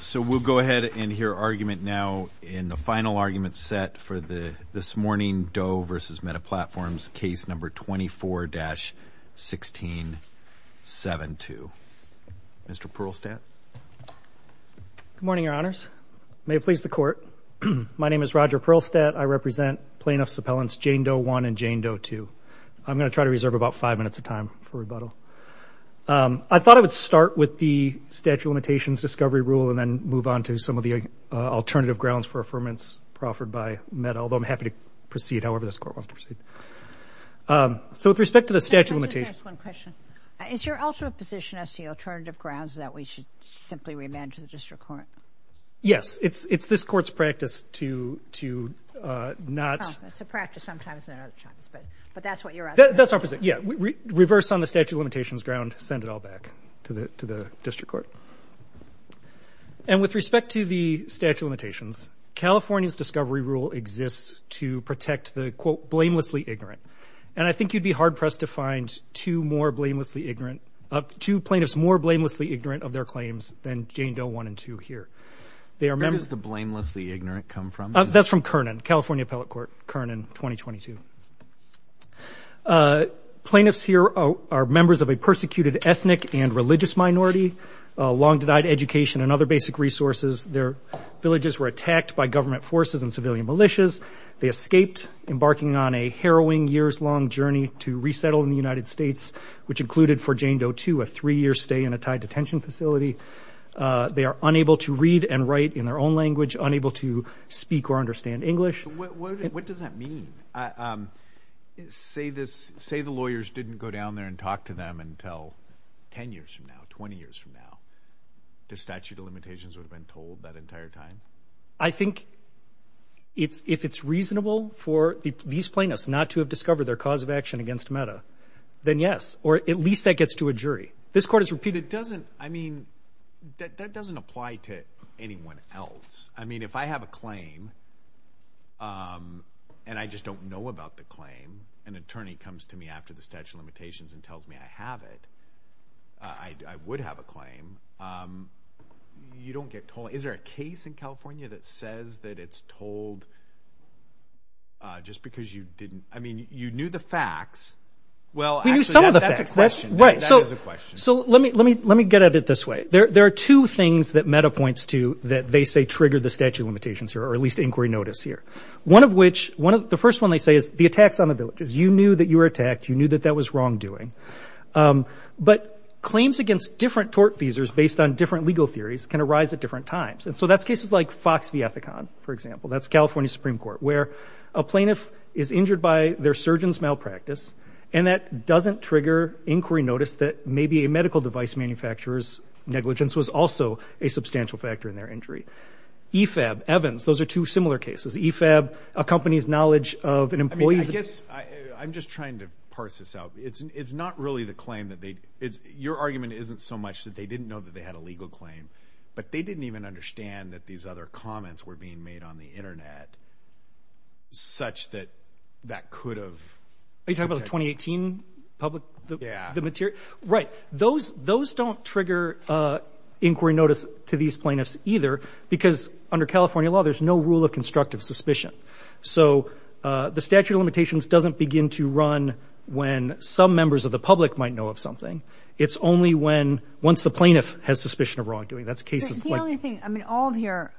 So, we'll go ahead and hear argument now in the final argument set for this morning Doe v. Meta Platforms, Case No. 24-1672. Mr. Perlstadt. Good morning, Your Honors. May it please the Court. My name is Roger Perlstadt. I represent plaintiffs' appellants Jane Doe 1 and Jane Doe 2. I'm going to try to reserve about five minutes of time for rebuttal. I thought I would start with the statute of limitations discovery rule and then move on to some of the alternative grounds for affirmance proffered by Meta, although I'm happy to proceed however this Court wants to proceed. So with respect to the statute of limitations. Can I just ask one question? Is your ultimate position as to the alternative grounds that we should simply remand to the District Court? Yes. It's this Court's practice to not... Well, it's a practice sometimes and not a chance, but that's what you're asking. That's our position. Yeah. Reverse on the statute of limitations ground, send it all back to the District Court. And with respect to the statute of limitations, California's discovery rule exists to protect the quote, blamelessly ignorant. And I think you'd be hard-pressed to find two more blamelessly ignorant, two plaintiffs more blamelessly ignorant of their claims than Jane Doe 1 and 2 here. They are members... Where does the blamelessly ignorant come from? That's from Kernan, California Appellate Court, Kernan, 2022. Plaintiffs here are members of a persecuted ethnic and religious minority, long denied education and other basic resources. Their villages were attacked by government forces and civilian militias. They escaped, embarking on a harrowing years-long journey to resettle in the United States, which included for Jane Doe 2, a three-year stay in a Thai detention facility. They are unable to read and write in their own language, unable to speak or understand English. What does that mean? Say the lawyers didn't go down there and talk to them until 10 years from now, 20 years from now. The statute of limitations would have been told that entire time? I think if it's reasonable for these plaintiffs not to have discovered their cause of action against META, then yes, or at least that gets to a jury. This court has repeated... But it doesn't, I mean, that doesn't apply to anyone else. I mean, if I have a claim and I just don't know about the claim, an attorney comes to me after the statute of limitations and tells me I have it, I would have a claim. You don't get told. Is there a case in California that says that it's told just because you didn't, I mean, you knew the facts. Well, actually... We knew some of the facts. That's a question. That is a question. So let me get at it this way. There are two things that META points to that they say trigger the statute of limitations or at least inquiry notice here. One of which, the first one they say is the attacks on the villagers. You knew that you were attacked. You knew that that was wrongdoing. But claims against different tort feasors based on different legal theories can arise at different times. And so that's cases like Fox v. Ethicon, for example. That's California Supreme Court, where a plaintiff is injured by their surgeon's malpractice And that doesn't trigger inquiry notice that maybe a medical device manufacturer's negligence was also a substantial factor in their injury. EFAB, Evans, those are two similar cases. EFAB accompanies knowledge of an employee's... I'm just trying to parse this out. It's not really the claim that they... Your argument isn't so much that they didn't know that they had a legal claim, but they didn't even understand that these other comments were being made on the internet such that that could have... Are you talking about the 2018 public... Yeah. The material... Right. Those don't trigger inquiry notice to these plaintiffs either, because under California law there's no rule of constructive suspicion. So the statute of limitations doesn't begin to run when some members of the public might know of something. It's only when... Once the plaintiff has suspicion of wrongdoing. That's cases like... The only thing... I mean, all of your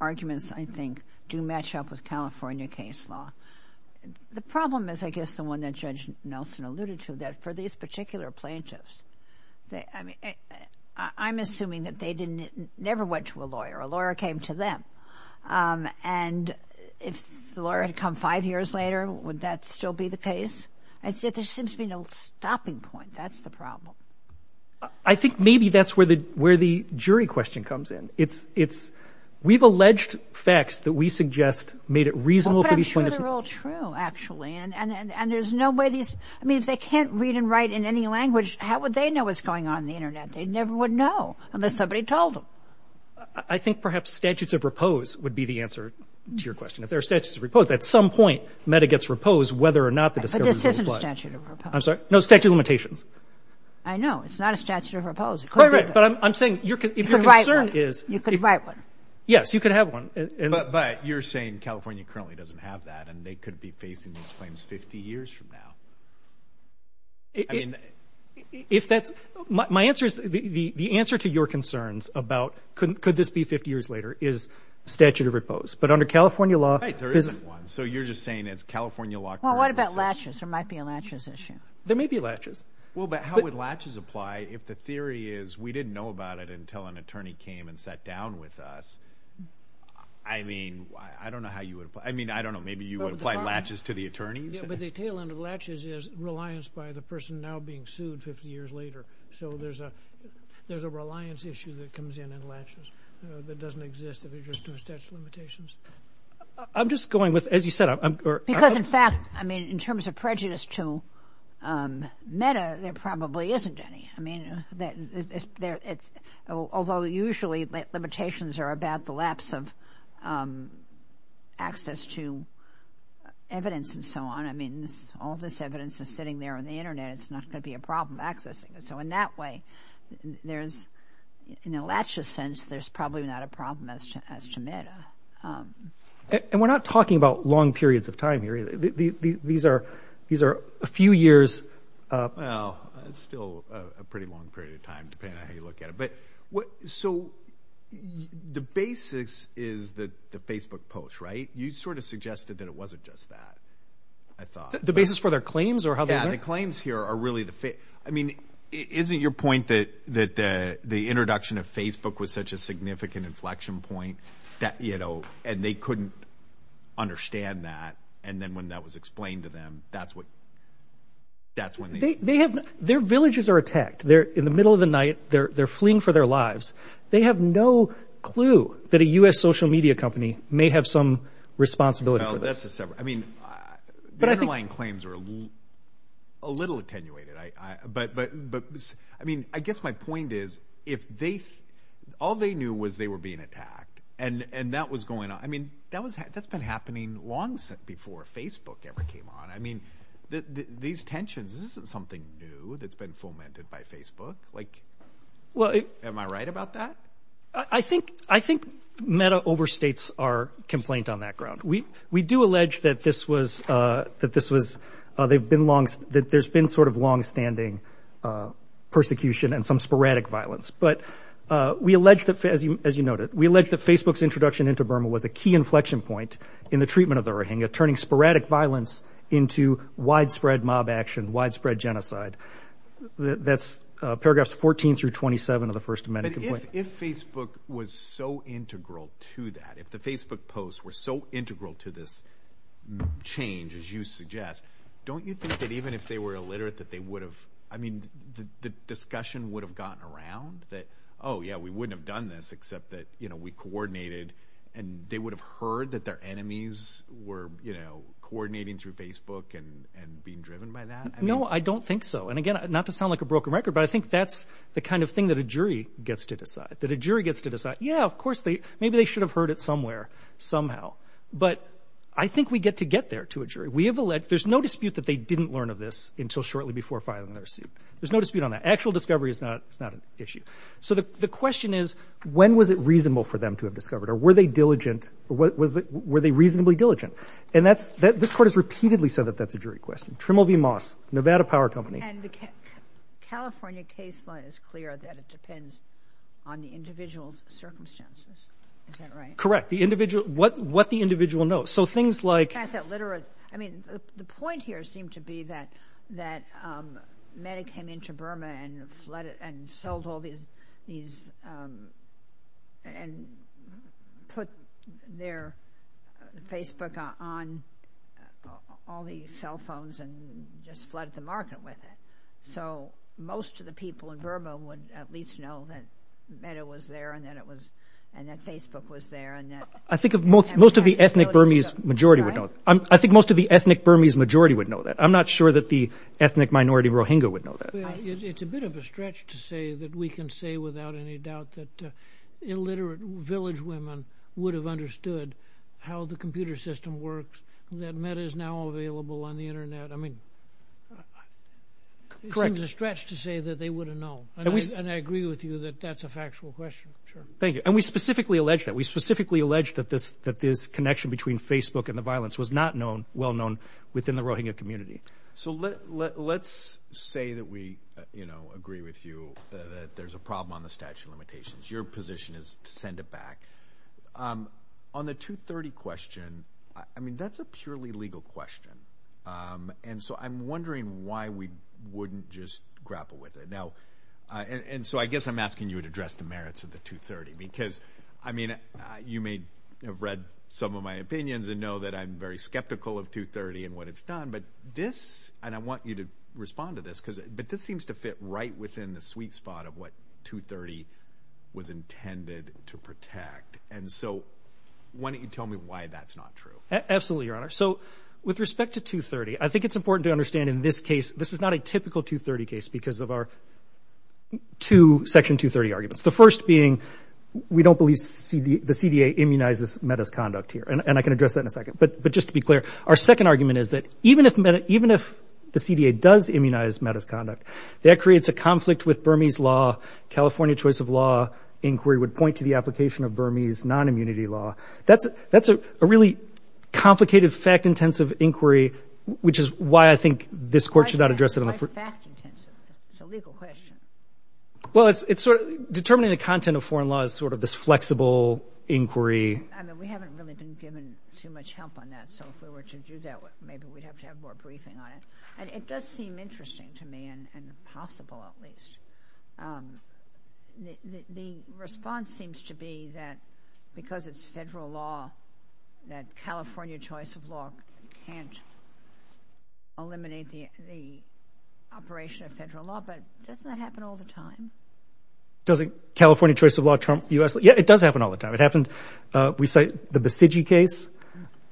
arguments, I think, do match up with California case law. The problem is, I guess, the one that Judge Nelson alluded to, that for these particular plaintiffs, I'm assuming that they never went to a lawyer. A lawyer came to them. And if the lawyer had come five years later, would that still be the case? And yet there seems to be no stopping point. That's the problem. I think maybe that's where the jury question comes in. It's... We've alleged facts that we suggest made it reasonable for these plaintiffs... Well, but I'm sure they're all true, actually. And there's no way these... I mean, if they can't read and write in any language, how would they know what's going on in the internet? They never would know unless somebody told them. I think perhaps statutes of repose would be the answer to your question. If there are statutes of repose, at some point MEDA gets reposed whether or not the discovery was a lie. But this isn't a statute of repose. I'm sorry? No statute of limitations. I know. It's not a statute of repose. It could be, but... But my concern is... You could write one. Yes, you could have one. But you're saying California currently doesn't have that and they could be facing these claims 50 years from now. If that's... My answer is, the answer to your concerns about could this be 50 years later is statute of repose. But under California law... Right, there isn't one. So you're just saying it's California law... Well, what about latches? There might be a latches issue. There may be latches. Well, but how would latches apply if the theory is we didn't know about it until an attorney came and sat down with us? I mean, I don't know how you would... I mean, I don't know. Maybe you would apply latches to the attorneys? Yeah, but the tail end of latches is reliance by the person now being sued 50 years later. So there's a reliance issue that comes in in latches that doesn't exist if you're just doing statute of limitations. I'm just going with, as you said, I'm... Because, in fact, I mean, in terms of prejudice to MEDA, there probably isn't any. I mean, although usually limitations are about the lapse of access to evidence and so on. I mean, all this evidence is sitting there on the internet. It's not going to be a problem accessing it. So in that way, there's... In a latches sense, there's probably not a problem as to MEDA. And we're not talking about long periods of time here. These are a few years... Well, it's still a pretty long period of time, depending on how you look at it. So the basics is that the Facebook post, right? You sort of suggested that it wasn't just that, I thought. The basis for their claims or how they were... Yeah, the claims here are really the... I mean, isn't your point that the introduction of Facebook was such a significant inflection point that... And they couldn't understand that. And then when that was explained to them, that's when they... Their villages are attacked. In the middle of the night, they're fleeing for their lives. They have no clue that a US social media company may have some responsibility for this. No, that's a separate... I mean, the underlying claims are a little attenuated. But I mean, I guess my point is, if they... All they knew was they were being attacked and that was going on. I mean, that's been happening long before Facebook ever came on. I mean, these tensions, this isn't something new that's been fomented by Facebook. Am I right about that? I think Meta overstates our complaint on that ground. We do allege that this was... They've been long... There's been sort of longstanding persecution and some sporadic violence. But we allege that, as you noted, we allege that Facebook's introduction into Burma was a key inflection point in the treatment of the Rohingya, turning sporadic violence into widespread mob action, widespread genocide. That's paragraphs 14 through 27 of the First Amendment complaint. But if Facebook was so integral to that, if the Facebook posts were so integral to this change, as you suggest, don't you think that even if they were illiterate, that they would have... I mean, the discussion would have gotten around that, oh yeah, we wouldn't have done this except that we coordinated, and they would have heard that their enemies were coordinating through Facebook and being driven by that? No, I don't think so. And again, not to sound like a broken record, but I think that's the kind of thing that a jury gets to decide, that a jury gets to decide, yeah, of course, maybe they should have heard it somewhere, somehow. But I think we get to get there to a jury. We have alleged... There's no dispute that they didn't learn of this until shortly before filing their suit. There's no dispute on that. Actual discovery is not an issue. So the question is, when was it reasonable for them to have discovered, or were they diligent, were they reasonably diligent? And that's... This court has repeatedly said that that's a jury question. Trimble v. Moss, Nevada Power Company. And the California case law is clear that it depends on the individual's circumstances. Is that right? Correct. The individual... What the individual knows. So things like... The fact that literate... I mean, the point here seemed to be that META came into Burma and flooded... And sold all these... And put their Facebook on all these cell phones and just flooded the market with it. So most of the people in Burma would at least know that META was there, and that it was... And that Facebook was there, and that... I think most of the ethnic Burmese majority would know. I think most of the ethnic Burmese majority would know that. I'm not sure that the ethnic minority Rohingya would know that. It's a bit of a stretch to say that we can say without any doubt that illiterate village women would have understood how the computer system works, that META is now available on the internet. I mean... Correct. It seems a stretch to say that they would have known. And I agree with you that that's a factual question. Sure. Thank you. And we specifically allege that. We specifically allege that this connection between Facebook and the violence was not known... Well-known within the Rohingya community. So let's say that we agree with you that there's a problem on the statute of limitations. Your position is to send it back. On the 230 question, I mean, that's a purely legal question. And so I'm wondering why we wouldn't just grapple with it. Now, and so I guess I'm asking you to address the merits of the 230 because, I mean, you may have read some of my opinions and know that I'm very skeptical of 230 and what it's done. But this, and I want you to respond to this, but this seems to fit right within the sweet spot of what 230 was intended to protect. And so why don't you tell me why that's not true? Absolutely, Your Honor. So with respect to 230, I think it's important to understand in this case, this is not a to Section 230 arguments. The first being, we don't believe the CDA immunizes metis conduct here, and I can address that in a second. But just to be clear, our second argument is that even if the CDA does immunize metis conduct, that creates a conflict with Burmese law, California choice of law inquiry would point to the application of Burmese non-immunity law. That's a really complicated, fact-intensive inquiry, which is why I think this court should not address it on the... It's not fact-intensive. It's a legal question. Well, it's sort of determining the content of foreign law is sort of this flexible inquiry. I mean, we haven't really been given too much help on that. So if we were to do that, maybe we'd have to have more briefing on it. And it does seem interesting to me and possible, at least. The response seems to be that because it's federal law, that California choice of law can't eliminate the operation of federal law. But doesn't that happen all the time? Doesn't California choice of law trump U.S.? Yeah, it does happen all the time. It happened... We cite the Basiji case,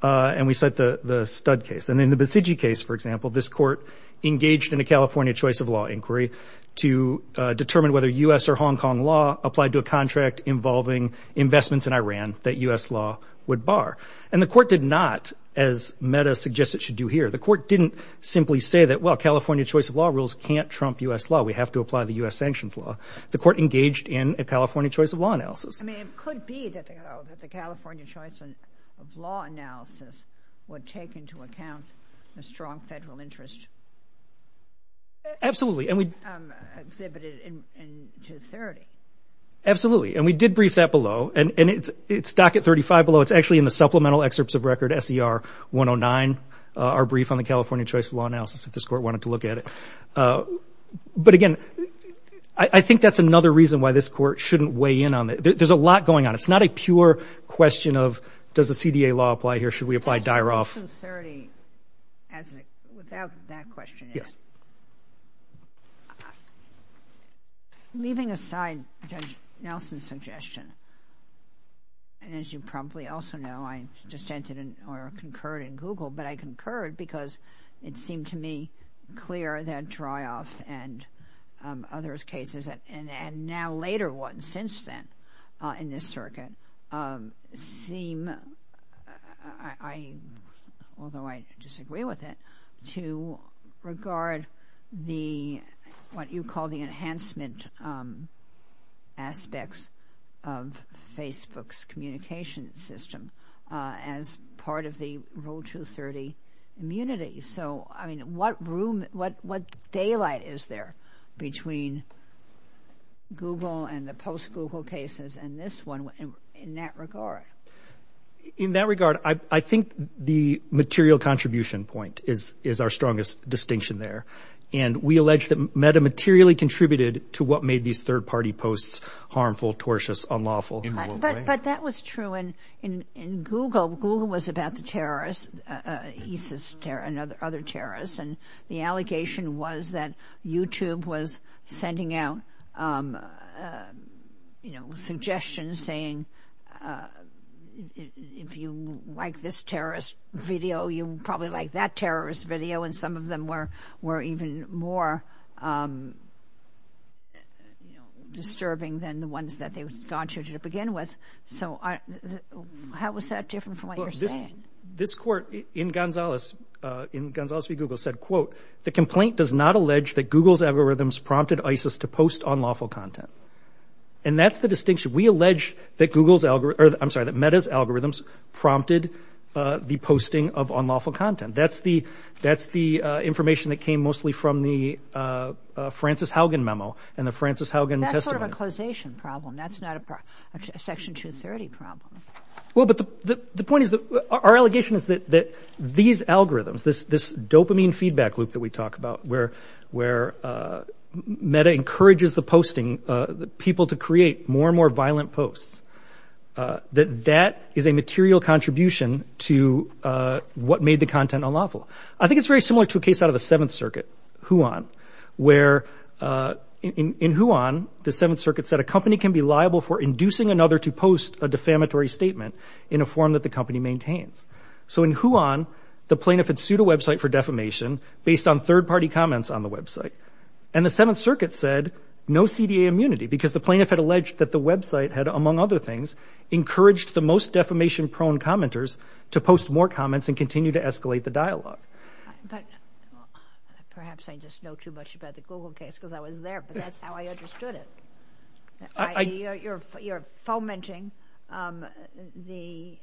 and we cite the Studd case. And in the Basiji case, for example, this court engaged in a California choice of law inquiry to determine whether U.S. or Hong Kong law applied to a contract involving investments in Iran that U.S. law would bar. And the court did not, as Meta suggests it should do here. The court didn't simply say that, well, California choice of law rules can't trump U.S. law. We have to apply the U.S. sanctions law. The court engaged in a California choice of law analysis. I mean, it could be that the California choice of law analysis would take into account a strong federal interest. Absolutely. Exhibited in 2030. Absolutely. And we did brief that below. And it's docket 35 below. It's actually in the supplemental excerpts of record SER 109, our brief on the California choice of law analysis, if this court wanted to look at it. But again, I think that's another reason why this court shouldn't weigh in on it. There's a lot going on. It's not a pure question of, does the CDA law apply here? Should we apply Dairov? Without that question. Yes. Leaving aside Judge Nelson's suggestion, and as you probably also know, I just entered or concurred in Google, but I concurred because it seemed to me clear that Dairov and other cases, and now later ones since then in this circuit, seem, although I disagree with it, to regard what you call the enhancement aspects of Facebook's communication system as part of the Rule 230 immunity. So, I mean, what room, what daylight is there between Google and the post-Google cases and this one in that regard? In that regard, I think the material contribution point is our strongest distinction there. And we allege that Metta materially contributed to what made these third-party posts harmful, tortious, unlawful. In what way? But that was true. In Google, Google was about the terrorists, ISIS and other terrorists, and the allegation was that YouTube was sending out suggestions saying, if you like this terrorist video, you'll probably like that terrorist video. And some of them were even more disturbing than the ones that they had gone through to begin with. So how is that different from what you're saying? This court in Gonzales v. Google said, quote, the complaint does not allege that Google's algorithms prompted ISIS to post unlawful content. And that's the distinction. We allege that Metta's algorithms prompted the posting of unlawful content. That's the information that came mostly from the Francis Haugen memo and the Francis Haugen testimony. That's sort of a causation problem. That's not a Section 230 problem. Well, but the point is that our allegation is that these algorithms, this dopamine feedback loop that we talk about where Metta encourages the posting, people to create more and more violent posts, that that is a material contribution to what made the content unlawful. I think it's very similar to a case out of the Seventh Circuit, Huon, where in Huon, the Seventh Circuit said a company can be liable for inducing another to post a defamatory statement in a form that the company maintains. So in Huon, the plaintiff had sued a website for defamation based on third-party comments on the website. And the Seventh Circuit said no CDA immunity because the plaintiff had alleged that the website had, among other things, encouraged the most defamation-prone commenters to post more comments and continue to escalate the dialogue. But perhaps I just know too much about the Google case because I was there, but that's not how I understood it. You're fomenting the...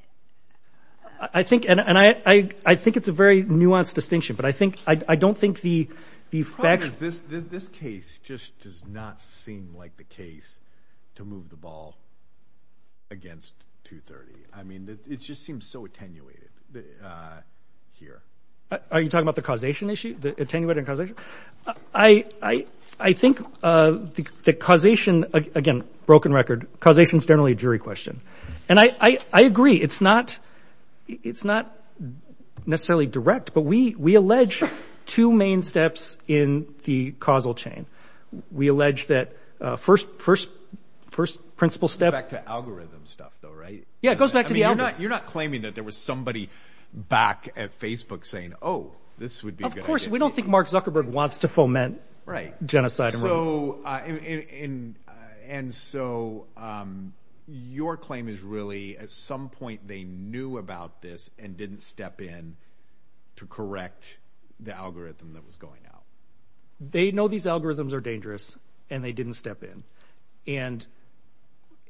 I think it's a very nuanced distinction, but I don't think the fact... The problem is this case just does not seem like the case to move the ball against 230. I mean, it just seems so attenuated here. Are you talking about the causation issue, the attenuated causation? I think the causation, again, broken record, causation is generally a jury question. And I agree. It's not necessarily direct, but we allege two main steps in the causal chain. We allege that first principle step... It goes back to algorithm stuff, though, right? Yeah, it goes back to the algorithm. I mean, you're not claiming that there was somebody back at Facebook saying, oh, this would be a good idea. Of course, we don't think Mark Zuckerberg wants to foment genocide. And so your claim is really at some point they knew about this and didn't step in to correct the algorithm that was going out. They know these algorithms are dangerous and they didn't step in. And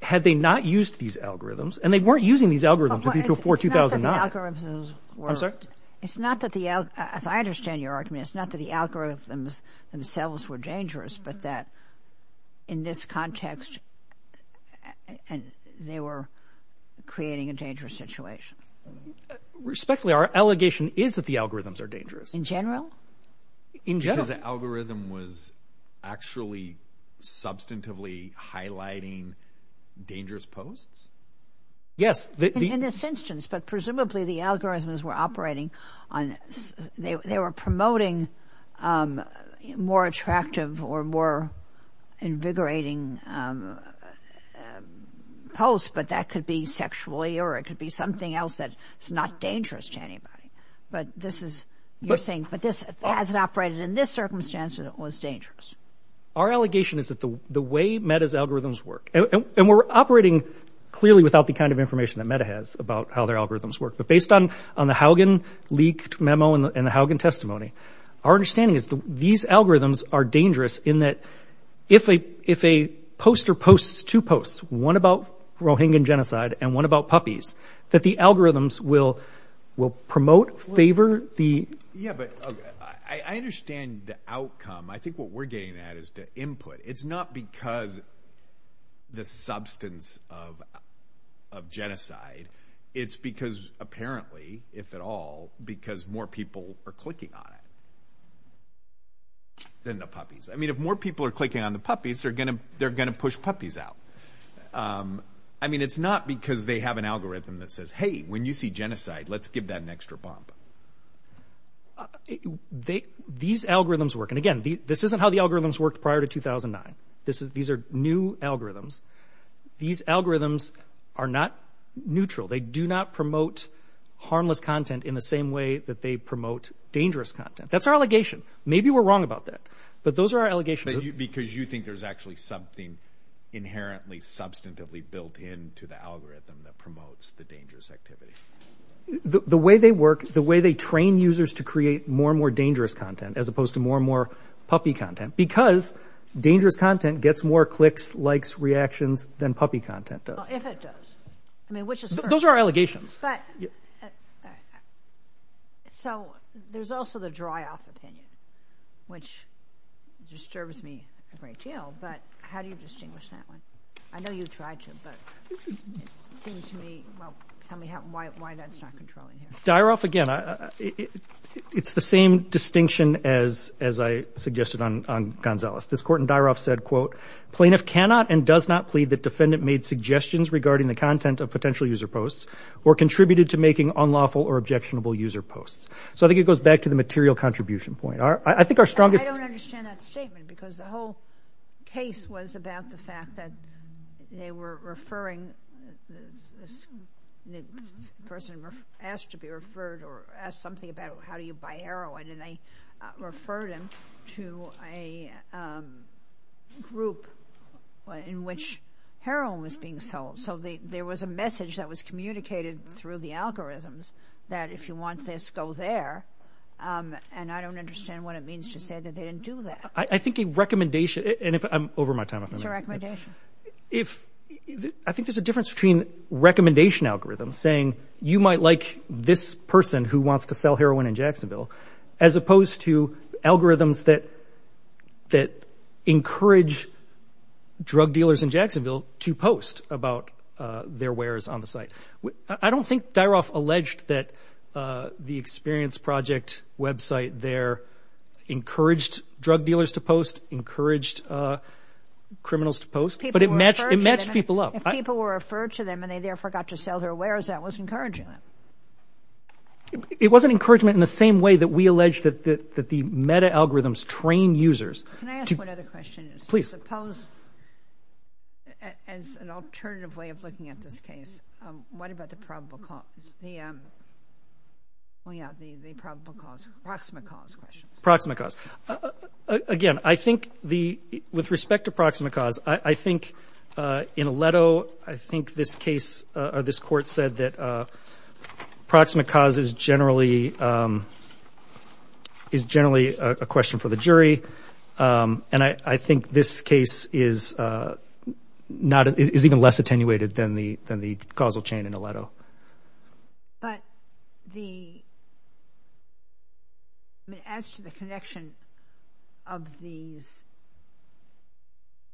had they not used these algorithms, and they weren't using these algorithms until before 2009. It's not that the algorithms were... I'm sorry? It's not that the algorithms, as I understand your argument, it's not that the algorithms themselves were dangerous, but that in this context they were creating a dangerous situation. Respectfully, our allegation is that the algorithms are dangerous. In general? In general. Because the algorithm was actually substantively highlighting dangerous posts? Yes. In this instance. But presumably the algorithms were operating on, they were promoting more attractive or more invigorating posts, but that could be sexually or it could be something else that's not dangerous to anybody. But this is, you're saying, but this hasn't operated in this circumstance and it was dangerous. Our allegation is that the way Meta's algorithms work, and we're operating clearly without the kind of information that Meta has about how their algorithms work. But based on the Haugen leaked memo and the Haugen testimony, our understanding is that these algorithms are dangerous in that if a poster posts two posts, one about Rohingya genocide and one about puppies, that the algorithms will promote, favor the... Yeah, but I understand the outcome. I think what we're getting at is the input. It's not because the substance of genocide. It's because apparently, if at all, because more people are clicking on it than the puppies. I mean, if more people are clicking on the puppies, they're going to push puppies out. I mean, it's not because they have an algorithm that says, hey, when you see genocide, let's give that an extra bump. These algorithms work. And again, this isn't how the algorithms worked prior to 2009. These are new algorithms. These algorithms are not neutral. They do not promote harmless content in the same way that they promote dangerous content. That's our allegation. Maybe we're wrong about that, but those are our allegations. Because you think there's actually something inherently substantively built in to the algorithm that promotes the dangerous activity. The way they work, the way they train users to create more and more dangerous content as opposed to more and more puppy content, because dangerous content gets more clicks, likes, reactions than puppy content does. Well, if it does. I mean, which is first. Those are our allegations. So there's also the dry-off opinion, which disturbs me a great deal, but how do you distinguish that one? I know you tried to, but it seems to me, well, tell me why that's not controlling here. Dry-off, again, it's the same distinction as I suggested on Gonzalez. This court in dry-off said, quote, plaintiff cannot and does not plead that defendant made suggestions regarding the content of potential user posts or contributed to making unlawful or objectionable user posts. So I think it goes back to the material contribution point. I think our strongest— I don't understand that statement, because the whole case was about the fact that they were referring— the person asked to be referred or asked something about how do you buy heroin, and they referred him to a group in which heroin was being sold. So there was a message that was communicated through the algorithms that if you want this, go there, and I don't understand what it means to say that they didn't do that. I think a recommendation—and if I'm over my time— It's a recommendation. I think there's a difference between recommendation algorithms, saying you might like this person who wants to sell heroin in Jacksonville, as opposed to algorithms that encourage drug dealers in Jacksonville to post about their wares on the site. I don't think Dyroff alleged that the Experience Project website there encouraged drug dealers to post, encouraged criminals to post, but it matched people up. If people were referred to them and they therefore got to sell their wares, that was encouraging them. It wasn't encouragement in the same way that we allege that the meta-algorithms train users. Can I ask one other question? Please. I suppose as an alternative way of looking at this case, what about the probable cause? The probable cause, proximate cause question. Proximate cause. Again, I think with respect to proximate cause, I think in Aledo, I think this case or this court said that proximate cause is generally a question for the jury, and I think this case is even less attenuated than the causal chain in Aledo. But as to the connection of these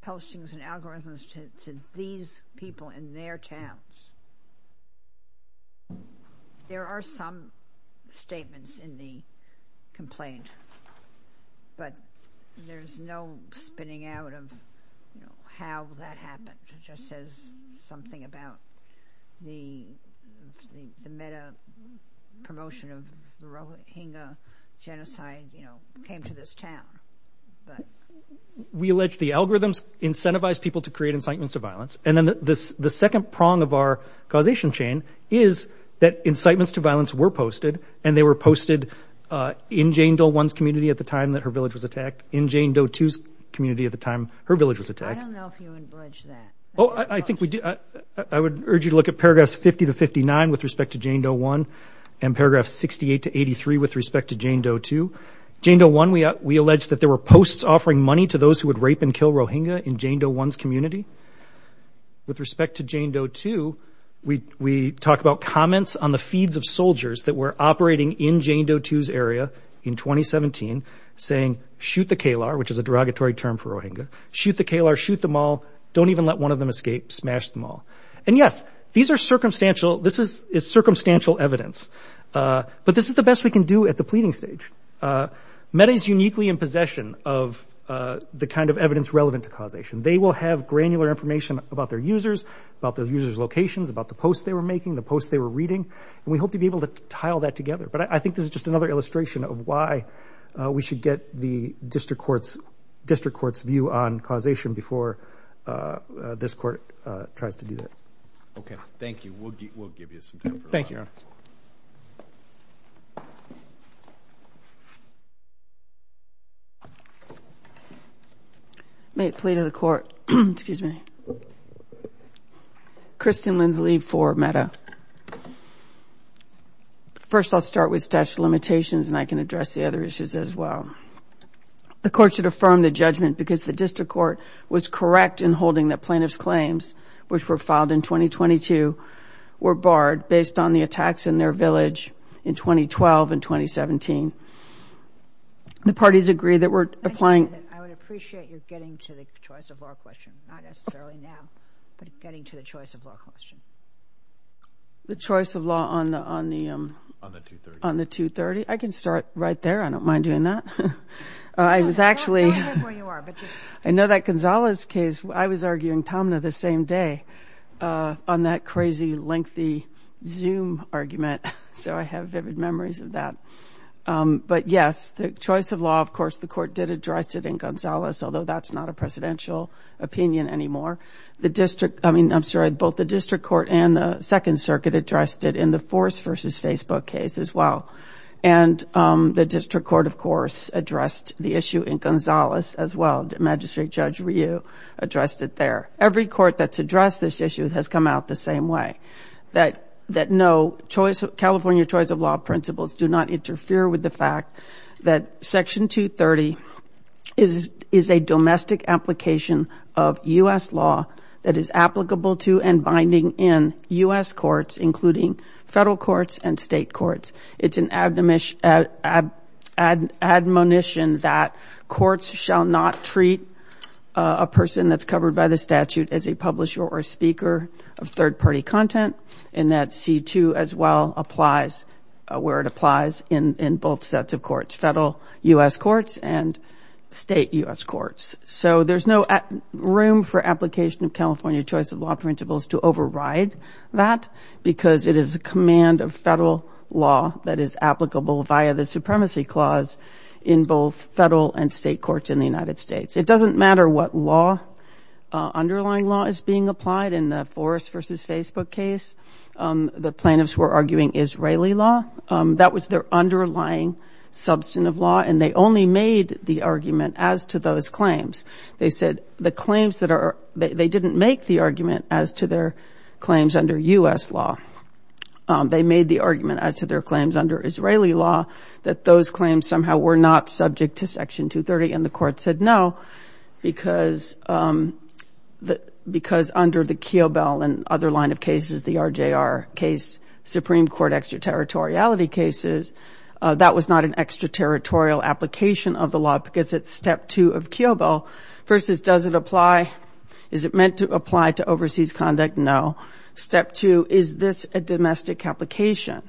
postings and algorithms to these people in their towns, there are some statements in the complaint, but there's no spinning out of how that happened. It just says something about the meta-promotion of the Rohingya genocide came to this town. We allege the algorithms incentivize people to create incitements to violence, and then the second prong of our causation chain is that incitements to violence were posted, and they were posted in Jane Doe 1's community at the time that her village was attacked, in Jane Doe 2's community at the time her village was attacked. I don't know if you would allege that. I would urge you to look at paragraphs 50 to 59 with respect to Jane Doe 1 and paragraphs 68 to 83 with respect to Jane Doe 2. Jane Doe 1, we allege that there were posts offering money to those who would rape and kill Rohingya in Jane Doe 1's community. With respect to Jane Doe 2, we talk about comments on the feeds of soldiers that were operating in Jane Doe 2's area in 2017 saying, shoot the Kalar, which is a derogatory term for Rohingya, shoot the Kalar, shoot them all, don't even let one of them escape, smash them all. And, yes, these are circumstantial. This is circumstantial evidence. But this is the best we can do at the pleading stage. META is uniquely in possession of the kind of evidence relevant to causation. They will have granular information about their users, about the users' locations, about the posts they were making, the posts they were reading, and we hope to be able to tile that together. But I think this is just another illustration of why we should get the district court's view on causation before this court tries to do that. Okay, thank you. We'll give you some time for that. Thank you, Your Honor. May it plea to the court. Excuse me. Kristen Lindsley for META. First, I'll start with statute of limitations, and I can address the other issues as well. The court should affirm the judgment because the district court was correct in holding that plaintiff's claims, which were filed in 2022, were barred based on the attacks in their village in 2012 and 2017. The parties agree that we're applying. I would appreciate you getting to the choice of law question, not necessarily now, but getting to the choice of law question. The choice of law on the 230? I can start right there. I don't mind doing that. I was actually, I know that Gonzalez case, I was arguing Tomna the same day on that crazy lengthy Zoom argument, so I have vivid memories of that. But, yes, the choice of law, of course, the court did address it in Gonzalez, although that's not a presidential opinion anymore. The district, I mean, I'm sorry, both the district court and the Second Circuit addressed it in the Force v. Facebook case as well. And the district court, of course, addressed the issue in Gonzalez as well. Magistrate Judge Ryu addressed it there. Every court that's addressed this issue has come out the same way, that no, California choice of law principles do not interfere with the fact that Section 230 is a domestic application of U.S. law that is applicable to and binding in U.S. courts, including federal courts and state courts. It's an admonition that courts shall not treat a person that's covered by the statute as a publisher or speaker of third-party content, and that C-2 as well applies where it applies in both sets of courts, federal U.S. courts and state U.S. courts. So there's no room for application of California choice of law principles to override that because it is a command of federal law that is applicable via the Supremacy Clause in both federal and state courts in the United States. It doesn't matter what law, underlying law, is being applied. In the Forrest v. Facebook case, the plaintiffs were arguing Israeli law. That was their underlying substantive law, and they only made the argument as to those claims. They said the claims that are – they didn't make the argument as to their claims under U.S. law. They made the argument as to their claims under Israeli law, that those claims somehow were not subject to Section 230, and the court said no because under the Kiobel and other line of cases, the RJR case, Supreme Court extraterritoriality cases, that was not an extraterritorial application of the law because it's Step 2 of Kiobel versus does it apply? Is it meant to apply to overseas conduct? No. Step 2, is this a domestic application?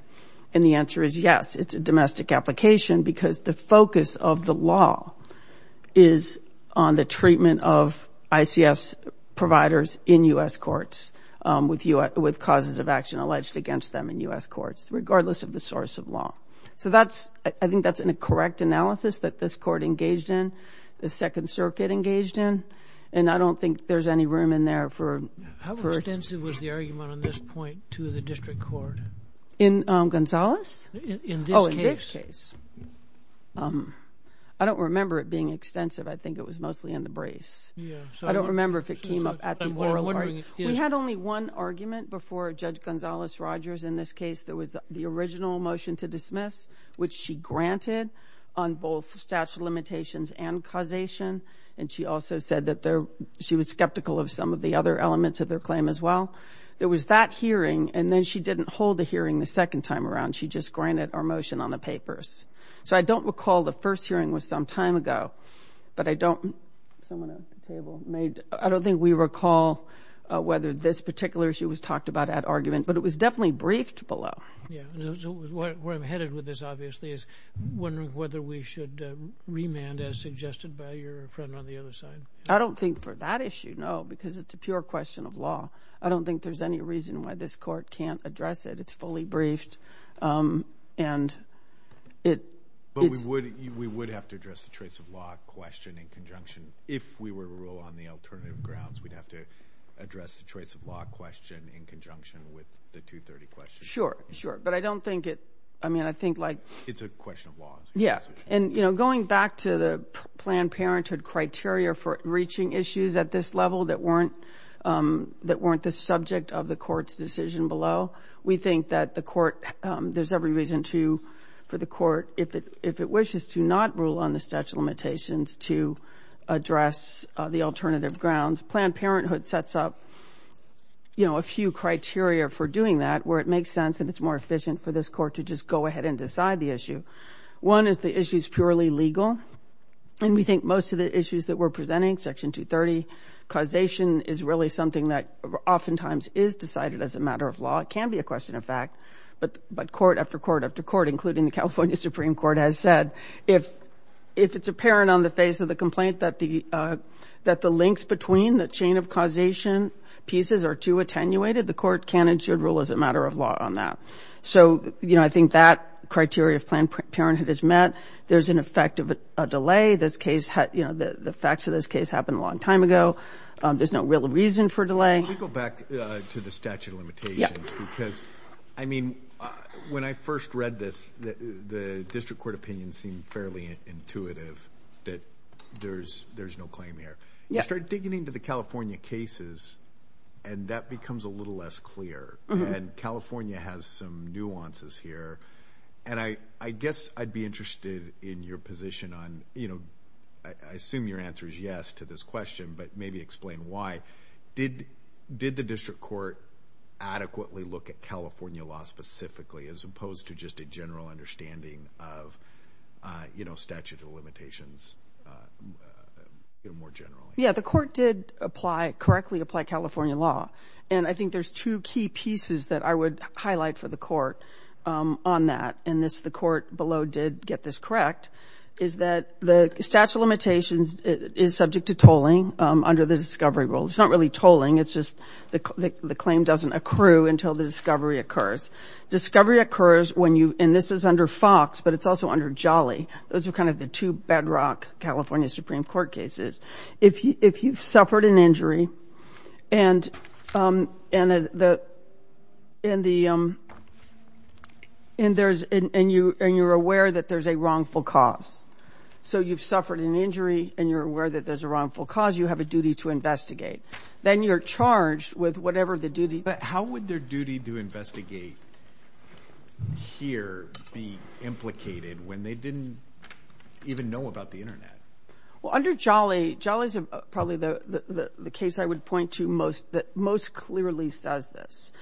And the answer is yes, it's a domestic application because the focus of the law is on the treatment of ICS providers in U.S. courts with causes of action alleged against them in U.S. courts, regardless of the source of law. So that's – I think that's a correct analysis that this court engaged in, the Second Circuit engaged in, and I don't think there's any room in there for – How extensive was the argument on this point to the district court? In Gonzales? In this case. Oh, in this case. I don't remember it being extensive. I think it was mostly in the briefs. I don't remember if it came up at the oral argument. We had only one argument before Judge Gonzales-Rogers in this case. There was the original motion to dismiss, which she granted on both statute of limitations and causation, and she also said that she was skeptical of some of the other elements of their claim as well. There was that hearing, and then she didn't hold the hearing the second time around. She just granted our motion on the papers. So I don't recall the first hearing was some time ago, but I don't – Someone at the table. I don't think we recall whether this particular issue was talked about at argument, but it was definitely briefed below. Yeah. Where I'm headed with this, obviously, is wondering whether we should remand as suggested by your friend on the other side. I don't think for that issue, no, because it's a pure question of law. I don't think there's any reason why this court can't address it. It's fully briefed, and it's – But we would have to address the choice of law question in conjunction. If we were to rule on the alternative grounds, we'd have to address the choice of law question in conjunction with the 230 question. Sure, sure, but I don't think it – I mean, I think, like – It's a question of law. Yeah, and, you know, going back to the Planned Parenthood criteria for reaching issues at this level that weren't the subject of the court's decision below, we think that the court – there's every reason to, for the court, if it wishes to not rule on the statute of limitations, to address the alternative grounds. Planned Parenthood sets up, you know, a few criteria for doing that where it makes sense and it's more efficient for this court to just go ahead and decide the issue. One is the issue's purely legal, and we think most of the issues that we're presenting, Section 230, causation is really something that oftentimes is decided as a matter of law. It can be a question of fact, but court after court after court, including the California Supreme Court, has said, if it's apparent on the face of the complaint that the links between the chain of causation pieces are too attenuated, the court can and should rule as a matter of law on that. So, you know, I think that criteria of Planned Parenthood is met. There's an effect of a delay. This case – you know, the facts of this case happened a long time ago. There's no real reason for delay. Let me go back to the statute of limitations because, I mean, when I first read this, the district court opinion seemed fairly intuitive that there's no claim here. I started digging into the California cases, and that becomes a little less clear, and California has some nuances here. And I guess I'd be interested in your position on, you know, I assume your answer is yes to this question, but maybe explain why. Did the district court adequately look at California law specifically as opposed to just a general understanding of, you know, statute of limitations more generally? Yeah, the court did apply – correctly apply California law, and I think there's two key pieces that I would highlight for the court on that, and the court below did get this correct, is that the statute of limitations is subject to tolling under the discovery rule. It's not really tolling. It's just the claim doesn't accrue until the discovery occurs. Discovery occurs when you – and this is under Fox, but it's also under Jolly. Those are kind of the two bedrock California Supreme Court cases. If you've suffered an injury and you're aware that there's a wrongful cause, so you've suffered an injury and you're aware that there's a wrongful cause, you have a duty to investigate. Then you're charged with whatever the duty. But how would their duty to investigate here be implicated when they didn't even know about the Internet? Well, under Jolly, Jolly's probably the case I would point to most – that most clearly says this,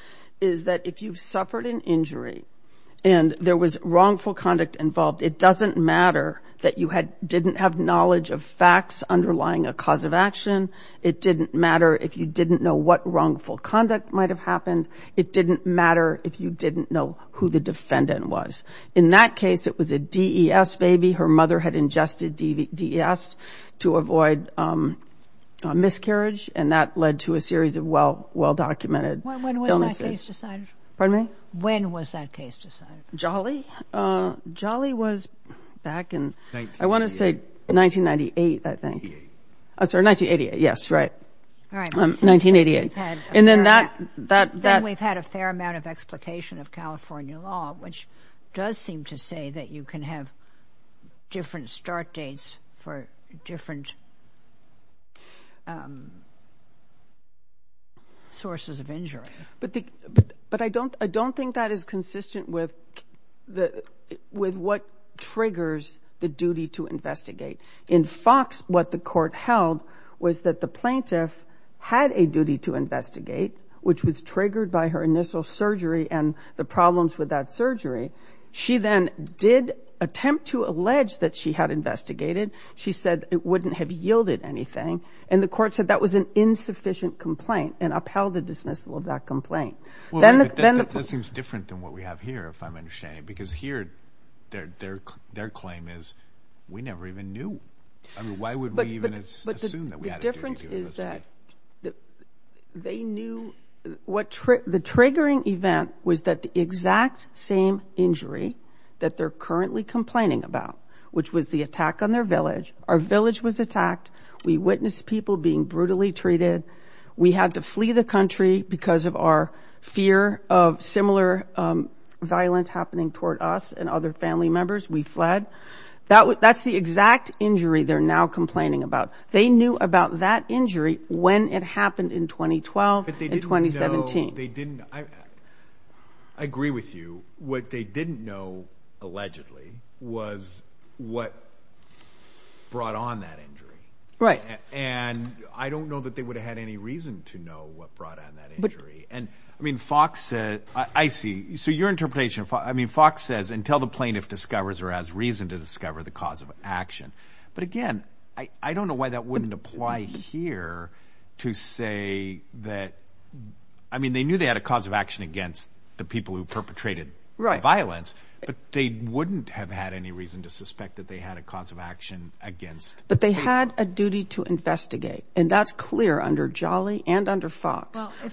is that if you've suffered an injury and there was wrongful conduct involved, it doesn't matter that you didn't have knowledge of facts underlying a cause of action. It didn't matter if you didn't know what wrongful conduct might have happened. It didn't matter if you didn't know who the defendant was. In that case, it was a DES baby. Her mother had ingested DES to avoid miscarriage, and that led to a series of well-documented illnesses. When was that case decided? Pardon me? When was that case decided? Jolly? Jolly was back in, I want to say, 1998, I think. Oh, sorry, 1988. Yes, right. All right. 1988. Then we've had a fair amount of explication of California law, which does seem to say that you can have different start dates for different sources of injury. But I don't think that is consistent with what triggers the duty to investigate. In Fox, what the court held was that the plaintiff had a duty to investigate, which was triggered by her initial surgery and the problems with that surgery. She then did attempt to allege that she had investigated. She said it wouldn't have yielded anything, and the court said that was an insufficient complaint and upheld the dismissal of that complaint. That seems different than what we have here, if I'm understanding, because here their claim is we never even knew. I mean, why would we even assume that we had a duty to investigate? The difference is that they knew what the triggering event was that the exact same injury that they're currently complaining about, which was the attack on their village. Our village was attacked. We witnessed people being brutally treated. We had to flee the country because of our fear of similar violence happening toward us and other family members. We fled. That's the exact injury they're now complaining about. They knew about that injury when it happened in 2012 and 2017. But they didn't know. I agree with you. What they didn't know, allegedly, was what brought on that injury. I don't know that they would have had any reason to know what brought on that injury. I mean, Fox says—I see. So your interpretation of Fox says, until the plaintiff discovers or has reason to discover the cause of action. But, again, I don't know why that wouldn't apply here to say that— I mean, they knew they had a cause of action against the people who perpetrated the violence, but they wouldn't have had any reason to suspect that they had a cause of action against— But they had a duty to investigate, and that's clear under Jolly and under Fox. Well, if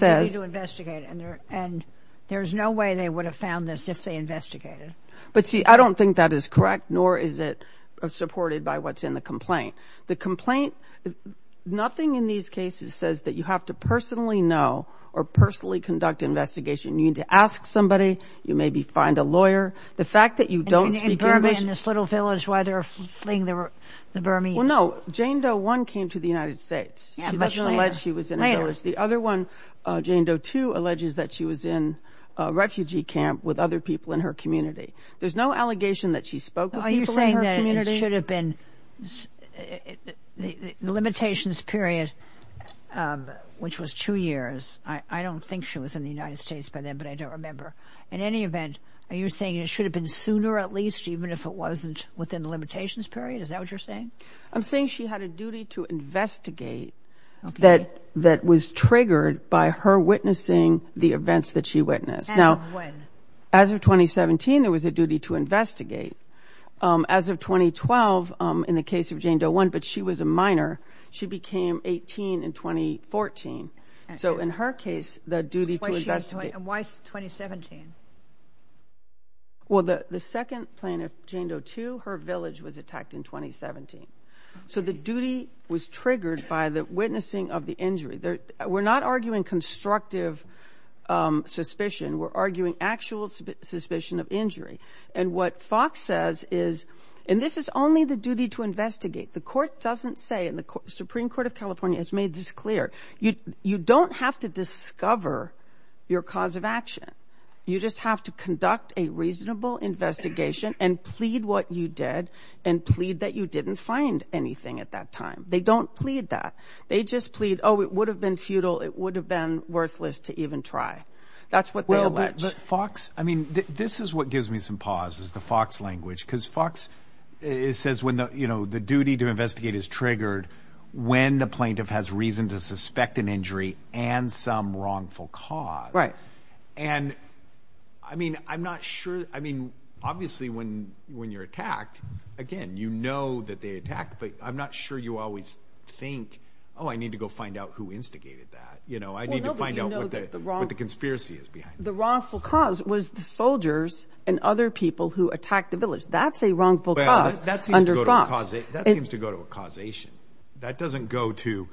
they had a duty to investigate, and there's no way they would have found this if they investigated. But, see, I don't think that is correct, nor is it supported by what's in the complaint. The complaint—nothing in these cases says that you have to personally know or personally conduct investigation. You need to ask somebody, you maybe find a lawyer. The fact that you don't speak English— And in Burma, in this little village, why they're fleeing the Burmese. Well, no, Jane Doe 1 came to the United States. She doesn't allege she was in a village. The other one, Jane Doe 2, alleges that she was in a refugee camp with other people in her community. There's no allegation that she spoke with people in her community. Are you saying that it should have been— the limitations period, which was two years, I don't think she was in the United States by then, but I don't remember. In any event, are you saying it should have been sooner at least, even if it wasn't within the limitations period? Is that what you're saying? I'm saying she had a duty to investigate that was triggered by her witnessing the events that she witnessed. And when? As of 2017, there was a duty to investigate. As of 2012, in the case of Jane Doe 1, but she was a minor, she became 18 in 2014. So in her case, the duty to investigate— And why 2017? Well, the second plaintiff, Jane Doe 2, her village was attacked in 2017. So the duty was triggered by the witnessing of the injury. We're not arguing constructive suspicion. We're arguing actual suspicion of injury. And what Fox says is—and this is only the duty to investigate. The Court doesn't say, and the Supreme Court of California has made this clear, you don't have to discover your cause of action. You just have to conduct a reasonable investigation and plead what you did and plead that you didn't find anything at that time. They don't plead that. They just plead, oh, it would have been futile, it would have been worthless to even try. That's what they allege. But Fox—I mean, this is what gives me some pause, is the Fox language. Because Fox says the duty to investigate is triggered when the plaintiff has reason to suspect an injury and some wrongful cause. Right. And, I mean, I'm not sure—I mean, obviously when you're attacked, again, you know that they attacked, but I'm not sure you always think, oh, I need to go find out who instigated that. I need to find out what the conspiracy is behind it. The wrongful cause was the soldiers and other people who attacked the village. That's a wrongful cause under Fox. Well, that seems to go to a causation. That doesn't go to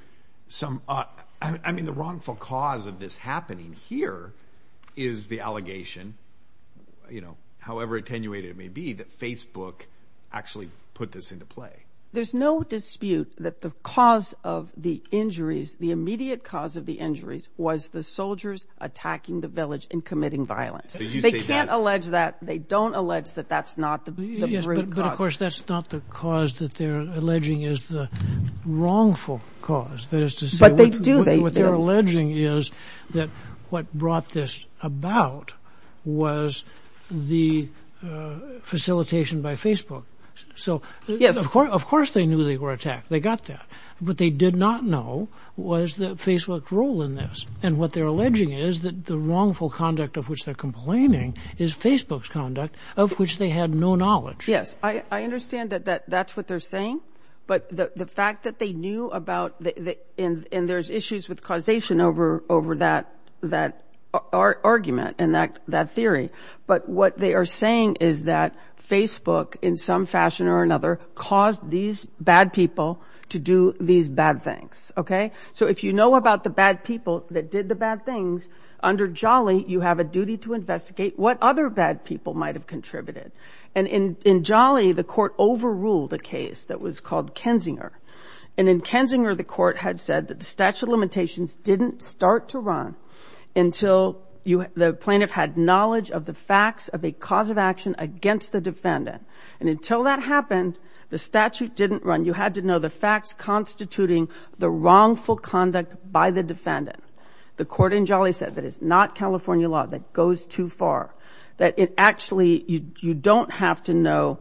some—I mean, the wrongful cause of this happening here is the allegation, you know, however attenuated it may be, that Facebook actually put this into play. There's no dispute that the cause of the injuries, the immediate cause of the injuries was the soldiers attacking the village and committing violence. They can't allege that. They don't allege that that's not the root cause. Yes, but, of course, that's not the cause that they're alleging is the wrongful cause. That is to say— But they do. What they're alleging is that what brought this about was the facilitation by Facebook. So, of course they knew they were attacked. They got that. What they did not know was that Facebook's role in this. And what they're alleging is that the wrongful conduct of which they're complaining is Facebook's conduct, of which they had no knowledge. Yes, I understand that that's what they're saying. But the fact that they knew about— and there's issues with causation over that argument and that theory. But what they are saying is that Facebook, in some fashion or another, caused these bad people to do these bad things. So if you know about the bad people that did the bad things, under Jolly you have a duty to investigate what other bad people might have contributed. And in Jolly the court overruled a case that was called Kensinger. And in Kensinger the court had said that the statute of limitations didn't start to run until the plaintiff had knowledge of the facts of a cause of action against the defendant. And until that happened, the statute didn't run. You had to know the facts constituting the wrongful conduct by the defendant. The court in Jolly said that it's not California law that goes too far, that it actually—you don't have to know.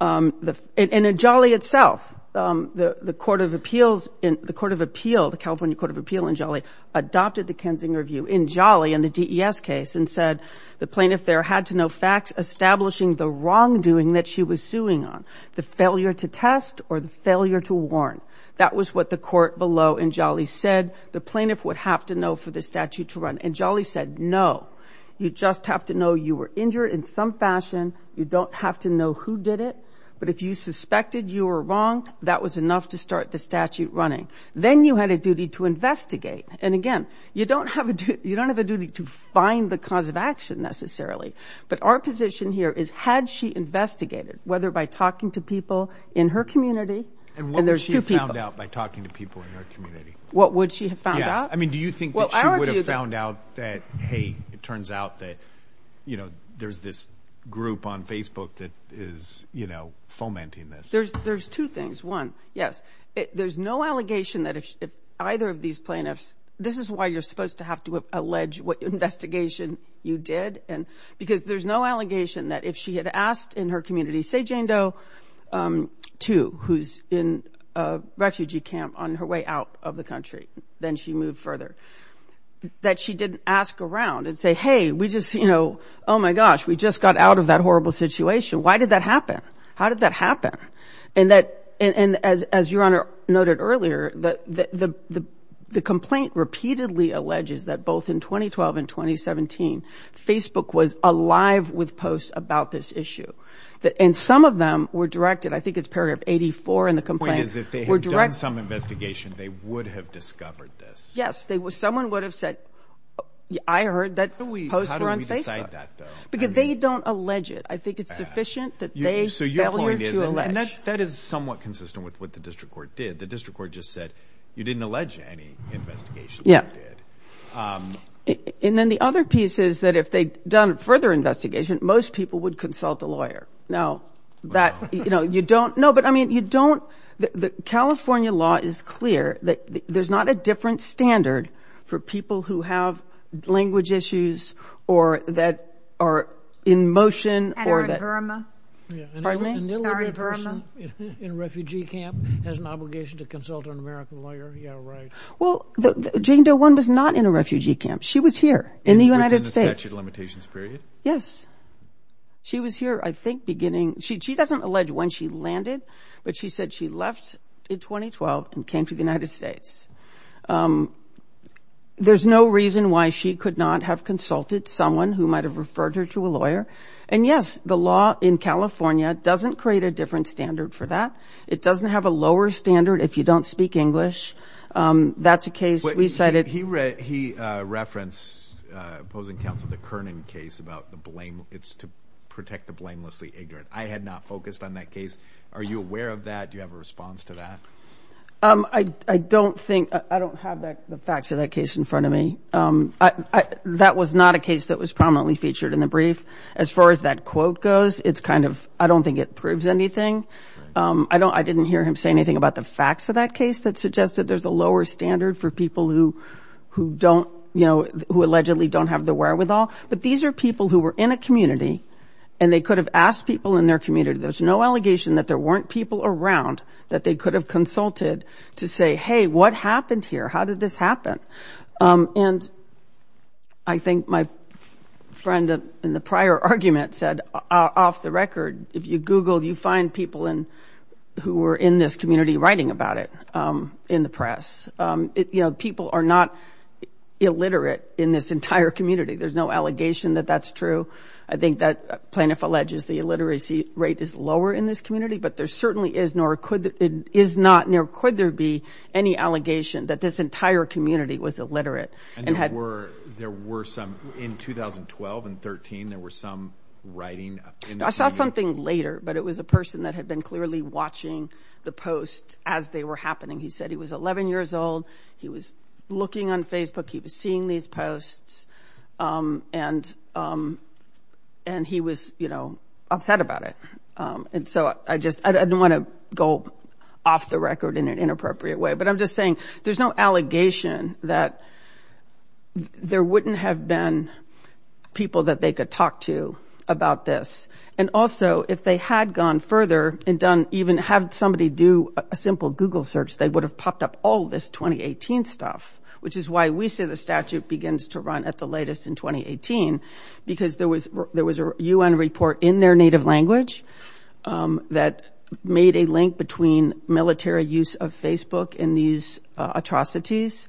And in Jolly itself, the Court of Appeals, the California Court of Appeal in Jolly, adopted the Kensinger review in Jolly in the DES case and said the plaintiff there had to know facts establishing the wrongdoing that she was suing on, the failure to test or the failure to warn. That was what the court below in Jolly said the plaintiff would have to know for the statute to run. And Jolly said, no, you just have to know you were injured in some fashion. You don't have to know who did it. But if you suspected you were wrong, that was enough to start the statute running. Then you had a duty to investigate. And, again, you don't have a duty to find the cause of action necessarily. But our position here is had she investigated, whether by talking to people in her community— And what would she have found out by talking to people in her community? What would she have found out? I mean, do you think that she would have found out that, hey, it turns out that, you know, there's this group on Facebook that is, you know, fomenting this? There's two things. One, yes, there's no allegation that if either of these plaintiffs— this is why you're supposed to have to allege what investigation you did. Because there's no allegation that if she had asked in her community, say Jane Doe II, who's in a refugee camp on her way out of the country, then she moved further, that she didn't ask around and say, hey, we just, you know, oh, my gosh, we just got out of that horrible situation. Why did that happen? How did that happen? And as Your Honor noted earlier, the complaint repeatedly alleges that both in 2012 and 2017, Facebook was alive with posts about this issue. And some of them were directed—I think it's paragraph 84 in the complaint— The point is if they had done some investigation, they would have discovered this. Yes. Someone would have said, I heard that posts were on Facebook. How do we decide that, though? Because they don't allege it. I think it's sufficient that they failure to allege. So your point is—and that is somewhat consistent with what the district court did. The district court just said you didn't allege any investigation that you did. And then the other piece is that if they'd done further investigation, most people would consult the lawyer. Now, that—you know, you don't—no, but, I mean, you don't— California law is clear that there's not a different standard for people who have language issues or that are in motion or that— Edward Verma. Pardon me? Edward Verma. An illiterate person in a refugee camp has an obligation to consult an American lawyer. Yeah, right. Well, Jane Doe One was not in a refugee camp. She was here in the United States. In the statute of limitations period? Yes. She was here, I think, beginning—she doesn't allege when she landed, but she said she left in 2012 and came to the United States. There's no reason why she could not have consulted someone who might have referred her to a lawyer. And, yes, the law in California doesn't create a different standard for that. It doesn't have a lower standard if you don't speak English. That's a case we cited— He referenced opposing counsel the Kernan case about the blame— it's to protect the blamelessly ignorant. I had not focused on that case. Are you aware of that? Do you have a response to that? I don't think—I don't have the facts of that case in front of me. That was not a case that was prominently featured in the brief. As far as that quote goes, it's kind of—I don't think it proves anything. I didn't hear him say anything about the facts of that case that suggested there's a lower standard for people who don't— who allegedly don't have the wherewithal. But these are people who were in a community, and they could have asked people in their community. There's no allegation that there weren't people around that they could have consulted to say, hey, what happened here? How did this happen? And I think my friend in the prior argument said, off the record, if you Google, you find people who were in this community writing about it in the press. You know, people are not illiterate in this entire community. There's no allegation that that's true. I think that plaintiff alleges the illiteracy rate is lower in this community, but there certainly is nor could—is not nor could there be any allegation that this entire community was illiterate and had— And there were some—in 2012 and 2013, there were some writing— I saw something later, but it was a person that had been clearly watching the posts as they were happening. He said he was 11 years old. He was looking on Facebook. He was seeing these posts, and he was, you know, upset about it. And so I just—I don't want to go off the record in an inappropriate way, but I'm just saying there's no allegation that there wouldn't have been people that they could talk to about this. And also, if they had gone further and done—even had somebody do a simple Google search, they would have popped up all this 2018 stuff, which is why we say the statute begins to run at the latest in 2018, because there was a U.N. report in their native language that made a link between military use of Facebook in these atrocities,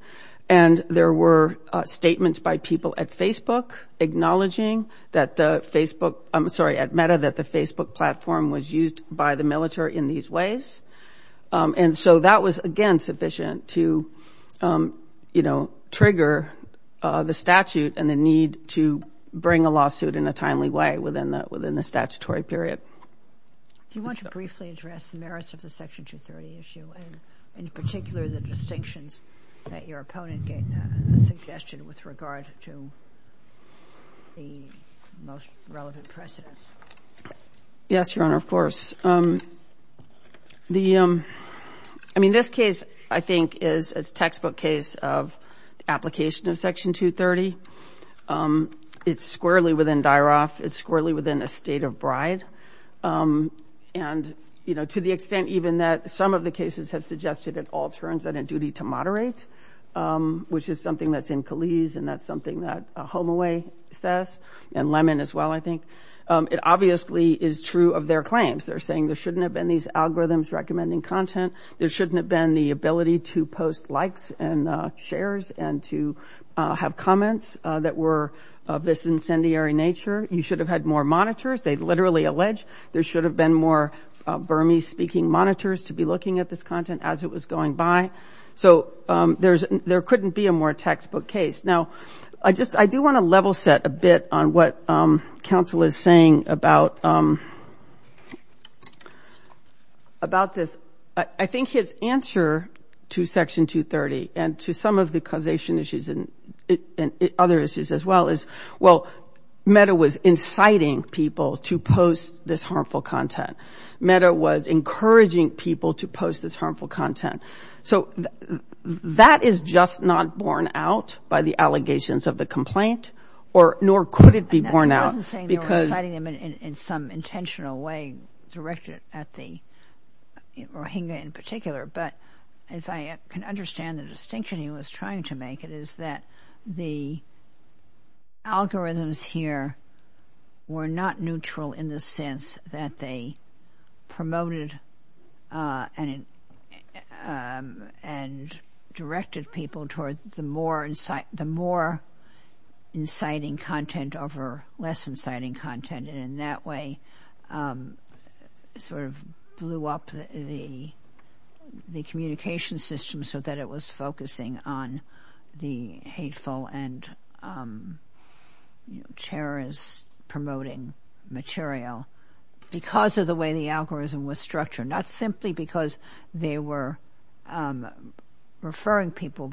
and there were statements by people at Facebook acknowledging that the Facebook— I'm sorry, at META, that the Facebook platform was used by the military in these ways. And so that was, again, sufficient to, you know, trigger the statute and the need to bring a lawsuit in a timely way within the statutory period. Do you want to briefly address the merits of the Section 230 issue, and in particular the distinctions that your opponent suggested with regard to the most relevant precedents? Yes, Your Honor, of course. The—I mean, this case, I think, is a textbook case of application of Section 230. It's squarely within DIRAF. It's squarely within a state of bride. And, you know, to the extent even that some of the cases have suggested at all turns that a duty to moderate, which is something that's in Calise, and that's something that Holloway says, and Lemon as well, I think, it obviously is true of their claims. They're saying there shouldn't have been these algorithms recommending content. There shouldn't have been the ability to post likes and shares and to have comments that were of this incendiary nature. You should have had more monitors. They literally allege there should have been more Burmese-speaking monitors to be looking at this content as it was going by. So there couldn't be a more textbook case. Now, I just—I do want to level set a bit on what counsel is saying about this. I think his answer to Section 230 and to some of the causation issues and other issues as well is, well, MEDA was inciting people to post this harmful content. MEDA was encouraging people to post this harmful content. So that is just not borne out by the allegations of the complaint, nor could it be borne out because— He wasn't saying they were inciting them in some intentional way directed at the Rohingya in particular, but if I can understand the distinction he was trying to make, it is that the algorithms here were not neutral in the sense that they promoted and directed people towards the more inciting content over less inciting content. And in that way sort of blew up the communication system so that it was focusing on the hateful and terrorist-promoting material because of the way the algorithm was structured. Not simply because they were referring people,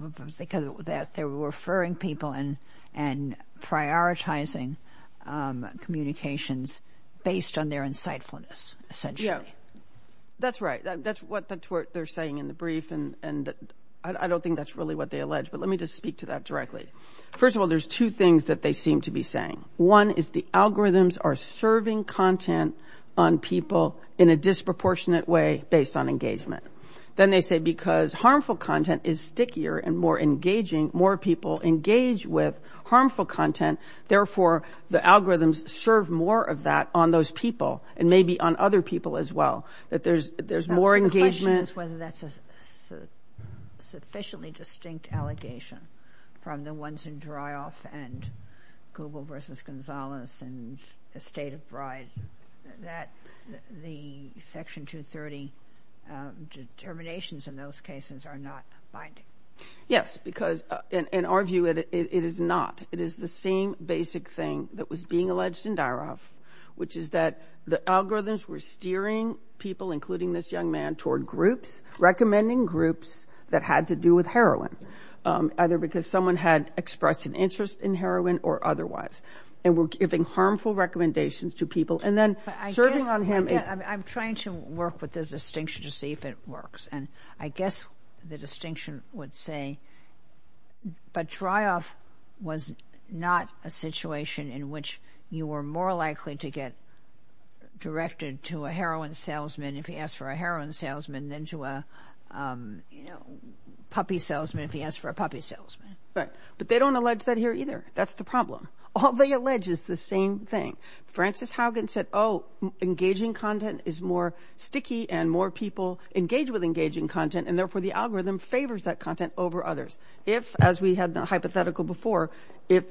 and prioritizing communications based on their insightfulness essentially. Yeah, that's right. That's what they're saying in the brief, and I don't think that's really what they allege, but let me just speak to that directly. First of all, there's two things that they seem to be saying. One is the algorithms are serving content on people in a disproportionate way based on engagement. Then they say because harmful content is stickier and more engaging, more people engage with harmful content, therefore the algorithms serve more of that on those people, and maybe on other people as well. That there's more engagement— The question is whether that's a sufficiently distinct allegation from the ones in Dreyhoff and Google versus Gonzales and Estate of Bride that the Section 230 determinations in those cases are not binding. Yes, because in our view it is not. It is the same basic thing that was being alleged in Dreyhoff, which is that the algorithms were steering people, including this young man, toward groups, recommending groups that had to do with heroin, either because someone had expressed an interest in heroin or otherwise, and were giving harmful recommendations to people, and then serving on him— I'm trying to work with the distinction to see if it works, and I guess the distinction would say, but Dreyhoff was not a situation in which you were more likely to get directed to a heroin salesman if he asked for a heroin salesman than to a puppy salesman if he asked for a puppy salesman. But they don't allege that here either. That's the problem. All they allege is the same thing. Francis Haugen said, oh, engaging content is more sticky, and more people engage with engaging content, and therefore the algorithm favors that content over others. If, as we had the hypothetical before, if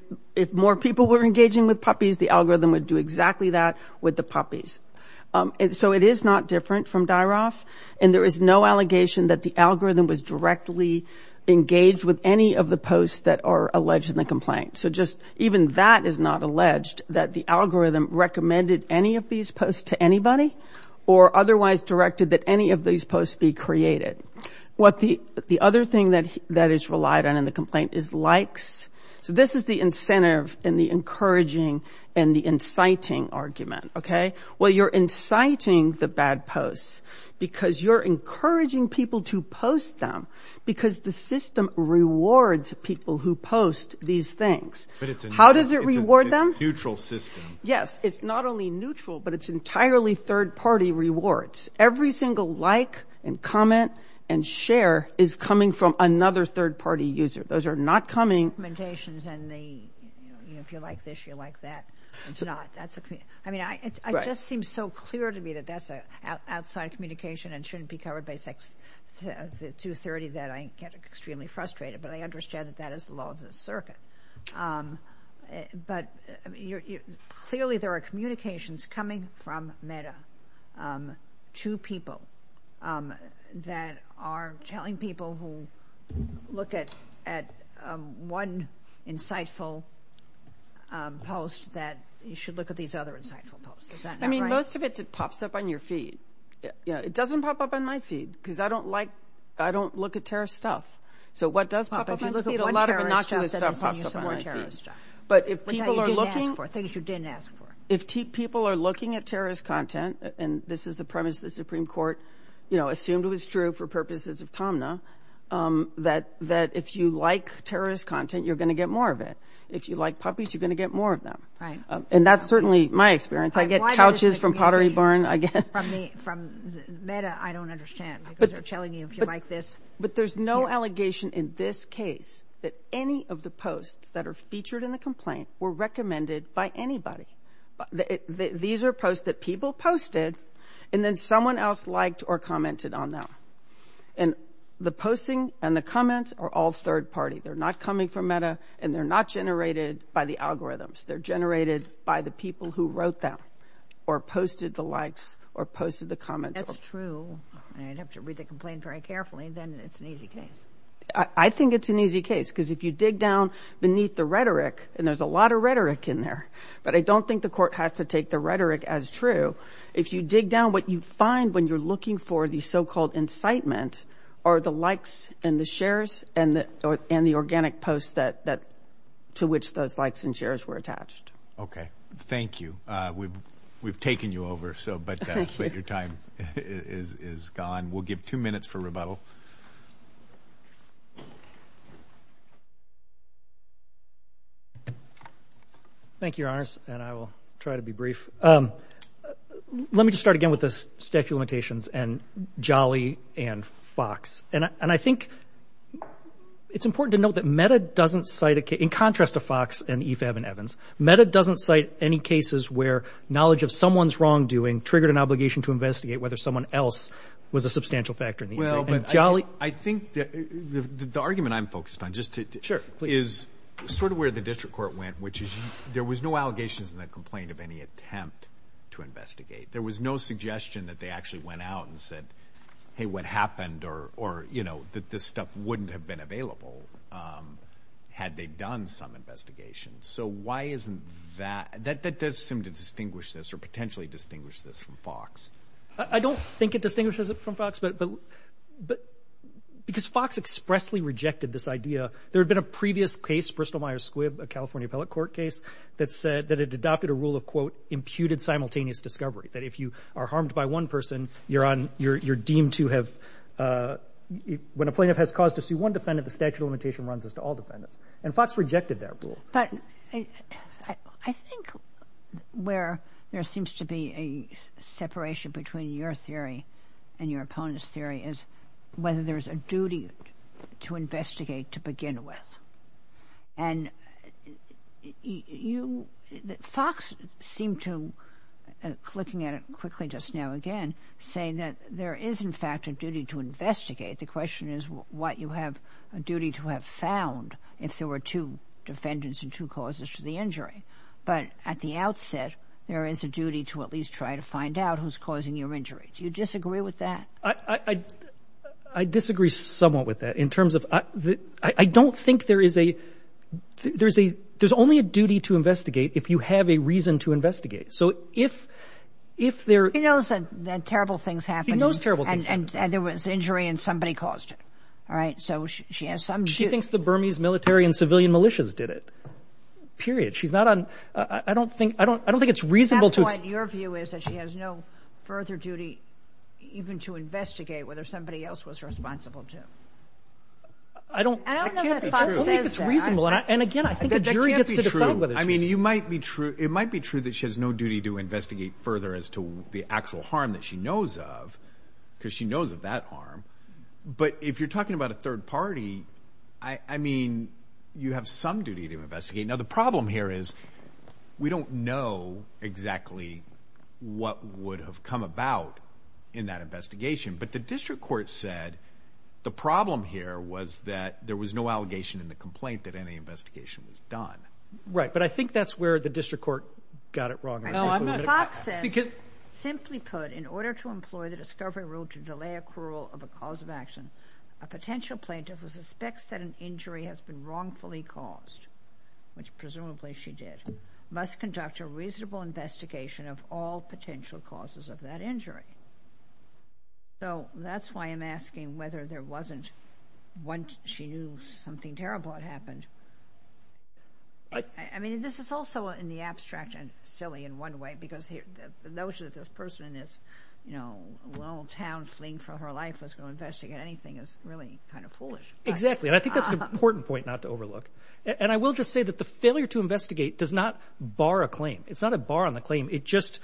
more people were engaging with puppies, the algorithm would do exactly that with the puppies. So it is not different from Dreyhoff, and there is no allegation that the algorithm was directly engaged with any of the posts that are alleged in the complaint. So just even that is not alleged, that the algorithm recommended any of these posts to anybody or otherwise directed that any of these posts be created. The other thing that is relied on in the complaint is likes. So this is the incentive and the encouraging and the inciting argument. Well, you're inciting the bad posts because you're encouraging people to post them because the system rewards people who post these things. How does it reward them? It's a neutral system. Yes. It's not only neutral, but it's entirely third-party rewards. Every single like and comment and share is coming from another third-party user. Those are not coming. If you like this, you like that. I mean, it just seems so clear to me that that's outside communication and shouldn't be covered by Section 230 that I get extremely frustrated, but I understand that that is the law of the circuit. But clearly there are communications coming from Meta to people that are telling people who look at one insightful post that you should look at these other insightful posts. Is that not right? I mean, most of it pops up on your feed. It doesn't pop up on my feed because I don't look at terrorist stuff. So what does pop up on my feed? A lot of innocuous stuff pops up on my feed. But if people are looking at terrorist content, and this is the premise the Supreme Court assumed was true for purposes of Tomna, that if you like terrorist content, you're going to get more of it. If you like puppies, you're going to get more of them. And that's certainly my experience. I get couches from Pottery Barn. From Meta, I don't understand. They're telling you if you like this. But there's no allegation in this case that any of the posts that are featured in the complaint were recommended by anybody. These are posts that people posted, and then someone else liked or commented on them. And the posting and the comments are all third party. They're not coming from Meta, and they're not generated by the algorithms. They're generated by the people who wrote them or posted the likes or posted the comments. That's true. I'd have to read the complaint very carefully, then it's an easy case. I think it's an easy case because if you dig down beneath the rhetoric, and there's a lot of rhetoric in there, but I don't think the court has to take the rhetoric as true. If you dig down what you find when you're looking for the so-called incitement are the likes and the shares and the organic posts to which those likes and shares were attached. Okay. Thank you. We've taken you over, but your time is gone. We'll give two minutes for rebuttal. Thank you, Your Honors, and I will try to be brief. Let me just start again with the statute of limitations and Jolly and Fox. And I think it's important to note that Meta doesn't cite a case, in contrast to Fox and EFAB and Evans, Meta doesn't cite any cases where knowledge of someone's wrongdoing triggered an obligation to investigate whether someone else was a substantial factor. Well, but I think the argument I'm focused on is sort of where the district court went, which is there was no allegations in the complaint of any attempt to investigate. There was no suggestion that they actually went out and said, hey, what happened or, you know, that this stuff wouldn't have been available had they done some investigation. So why isn't that? That does seem to distinguish this or potentially distinguish this from Fox. I don't think it distinguishes it from Fox, but because Fox expressly rejected this idea. There had been a previous case, Bristol-Myers Squibb, a California appellate court case, that said that it adopted a rule of, quote, imputed simultaneous discovery, that if you are harmed by one person, you're deemed to have, when a plaintiff has caused to sue one defendant, the statute of limitation runs as to all defendants. And Fox rejected that rule. But I think where there seems to be a separation between your theory and your opponent's theory is whether there's a duty to investigate to begin with. And Fox seemed to, looking at it quickly just now again, say that there is, in fact, a duty to investigate. The question is what you have a duty to have found if there were two defendants and two causes for the injury. But at the outset, there is a duty to at least try to find out who's causing your injury. Do you disagree with that? I disagree somewhat with that in terms of I don't think there is a ‑‑ there's only a duty to investigate if you have a reason to investigate. So if there ‑‑ He knows that terrible things happened. He knows terrible things happened. And there was injury and somebody caused it. All right? So she has some duty. She thinks the Burmese military and civilian militias did it, period. She's not on ‑‑ I don't think it's reasonable to ‑‑ So what your view is that she has no further duty even to investigate whether somebody else was responsible too? I don't know that Fox says that. I don't think it's reasonable. And, again, I think a jury gets to decide whether it's reasonable. I mean, you might be true ‑‑ it might be true that she has no duty to investigate further as to the actual harm that she knows of because she knows of that harm. But if you're talking about a third party, I mean, you have some duty to investigate. Now, the problem here is we don't know exactly what would have come about in that investigation. But the district court said the problem here was that there was no allegation in the complaint that any investigation was done. Right. But I think that's where the district court got it wrong. Fox says, simply put, in order to employ the discovery rule to delay a cruel of a cause of action, a potential plaintiff who suspects that an injury has been wrongfully caused which presumably she did, must conduct a reasonable investigation of all potential causes of that injury. So that's why I'm asking whether there wasn't when she knew something terrible had happened. I mean, this is also in the abstract and silly in one way because the notion that this person is, you know, a little town fleeing from her life was going to investigate anything is really kind of foolish. Exactly, and I think that's an important point not to overlook. And I will just say that the failure to investigate does not bar a claim. It's not a bar on the claim. It just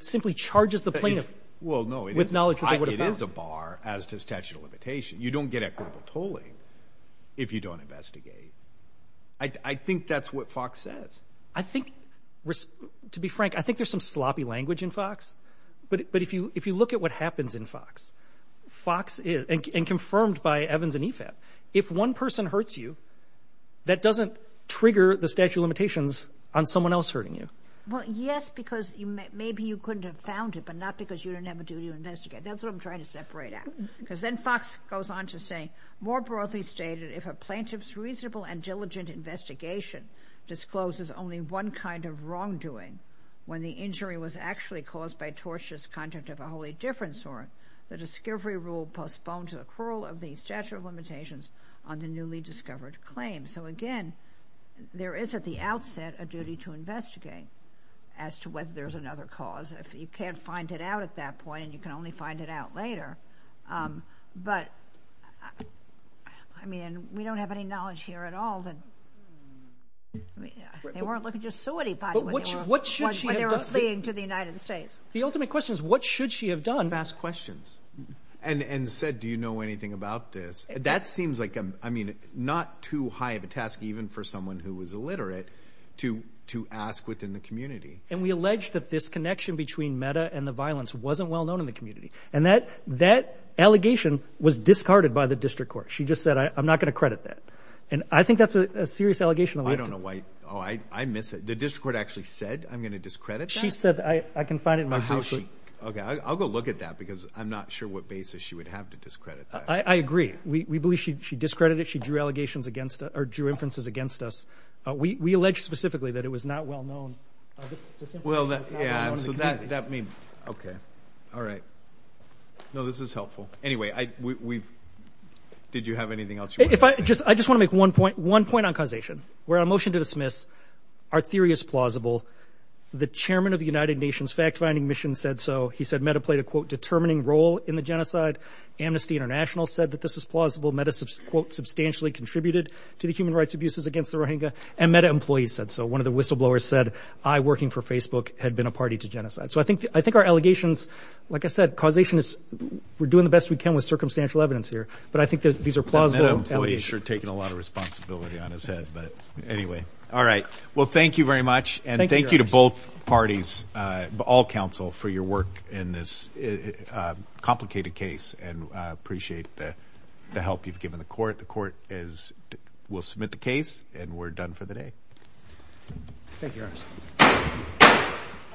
simply charges the plaintiff with knowledge that they would have found. Well, no, it is a bar as to statute of limitation. You don't get equitable tolling if you don't investigate. I think that's what Fox says. I think, to be frank, I think there's some sloppy language in Fox. But if you look at what happens in Fox, and confirmed by Evans and EFAP, if one person hurts you, that doesn't trigger the statute of limitations on someone else hurting you. Well, yes, because maybe you couldn't have found it, but not because you didn't have a duty to investigate. That's what I'm trying to separate out. Because then Fox goes on to say, More broadly stated, if a plaintiff's reasonable and diligent investigation discloses only one kind of wrongdoing, when the injury was actually caused by tortious conduct of a wholly different sort, the discovery rule postponed to the accrual of the statute of limitations on the newly discovered claim. So, again, there is at the outset a duty to investigate as to whether there's another cause. You can't find it out at that point, and you can only find it out later. But, I mean, we don't have any knowledge here at all. They weren't looking to sue anybody when they were fleeing to the United States. The ultimate question is, what should she have done? She should have asked questions and said, Do you know anything about this? That seems like, I mean, not too high of a task, even for someone who is illiterate, to ask within the community. And we allege that this connection between META and the violence wasn't well known in the community. And that allegation was discarded by the district court. She just said, I'm not going to credit that. And I think that's a serious allegation. I don't know why. Oh, I miss it. The district court actually said, I'm going to discredit that? She said, I can find it in my group. Okay, I'll go look at that, because I'm not sure what basis she would have to discredit that. I agree. We believe she discredited it. She drew allegations against it, or drew inferences against us. We allege specifically that it was not well known. Well, yeah, so that means, okay. All right. No, this is helpful. Anyway, did you have anything else you wanted to say? I just want to make one point on causation. We're on a motion to dismiss. Our theory is plausible. The chairman of the United Nations fact-finding mission said so. He said META played a, quote, determining role in the genocide. Amnesty International said that this is plausible. META, quote, substantially contributed to the human rights abuses against the Rohingya. And META employees said so. One of the whistleblowers said, I, working for Facebook, had been a party to genocide. So I think our allegations, like I said, causation, we're doing the best we can with circumstantial evidence here. But I think these are plausible allegations. META employees are taking a lot of responsibility on his head. But anyway. All right. Well, thank you very much. And thank you to both parties, all counsel, for your work in this complicated case. And I appreciate the help you've given the court. The court will submit the case, and we're done for the day. Thank you, Your Honor.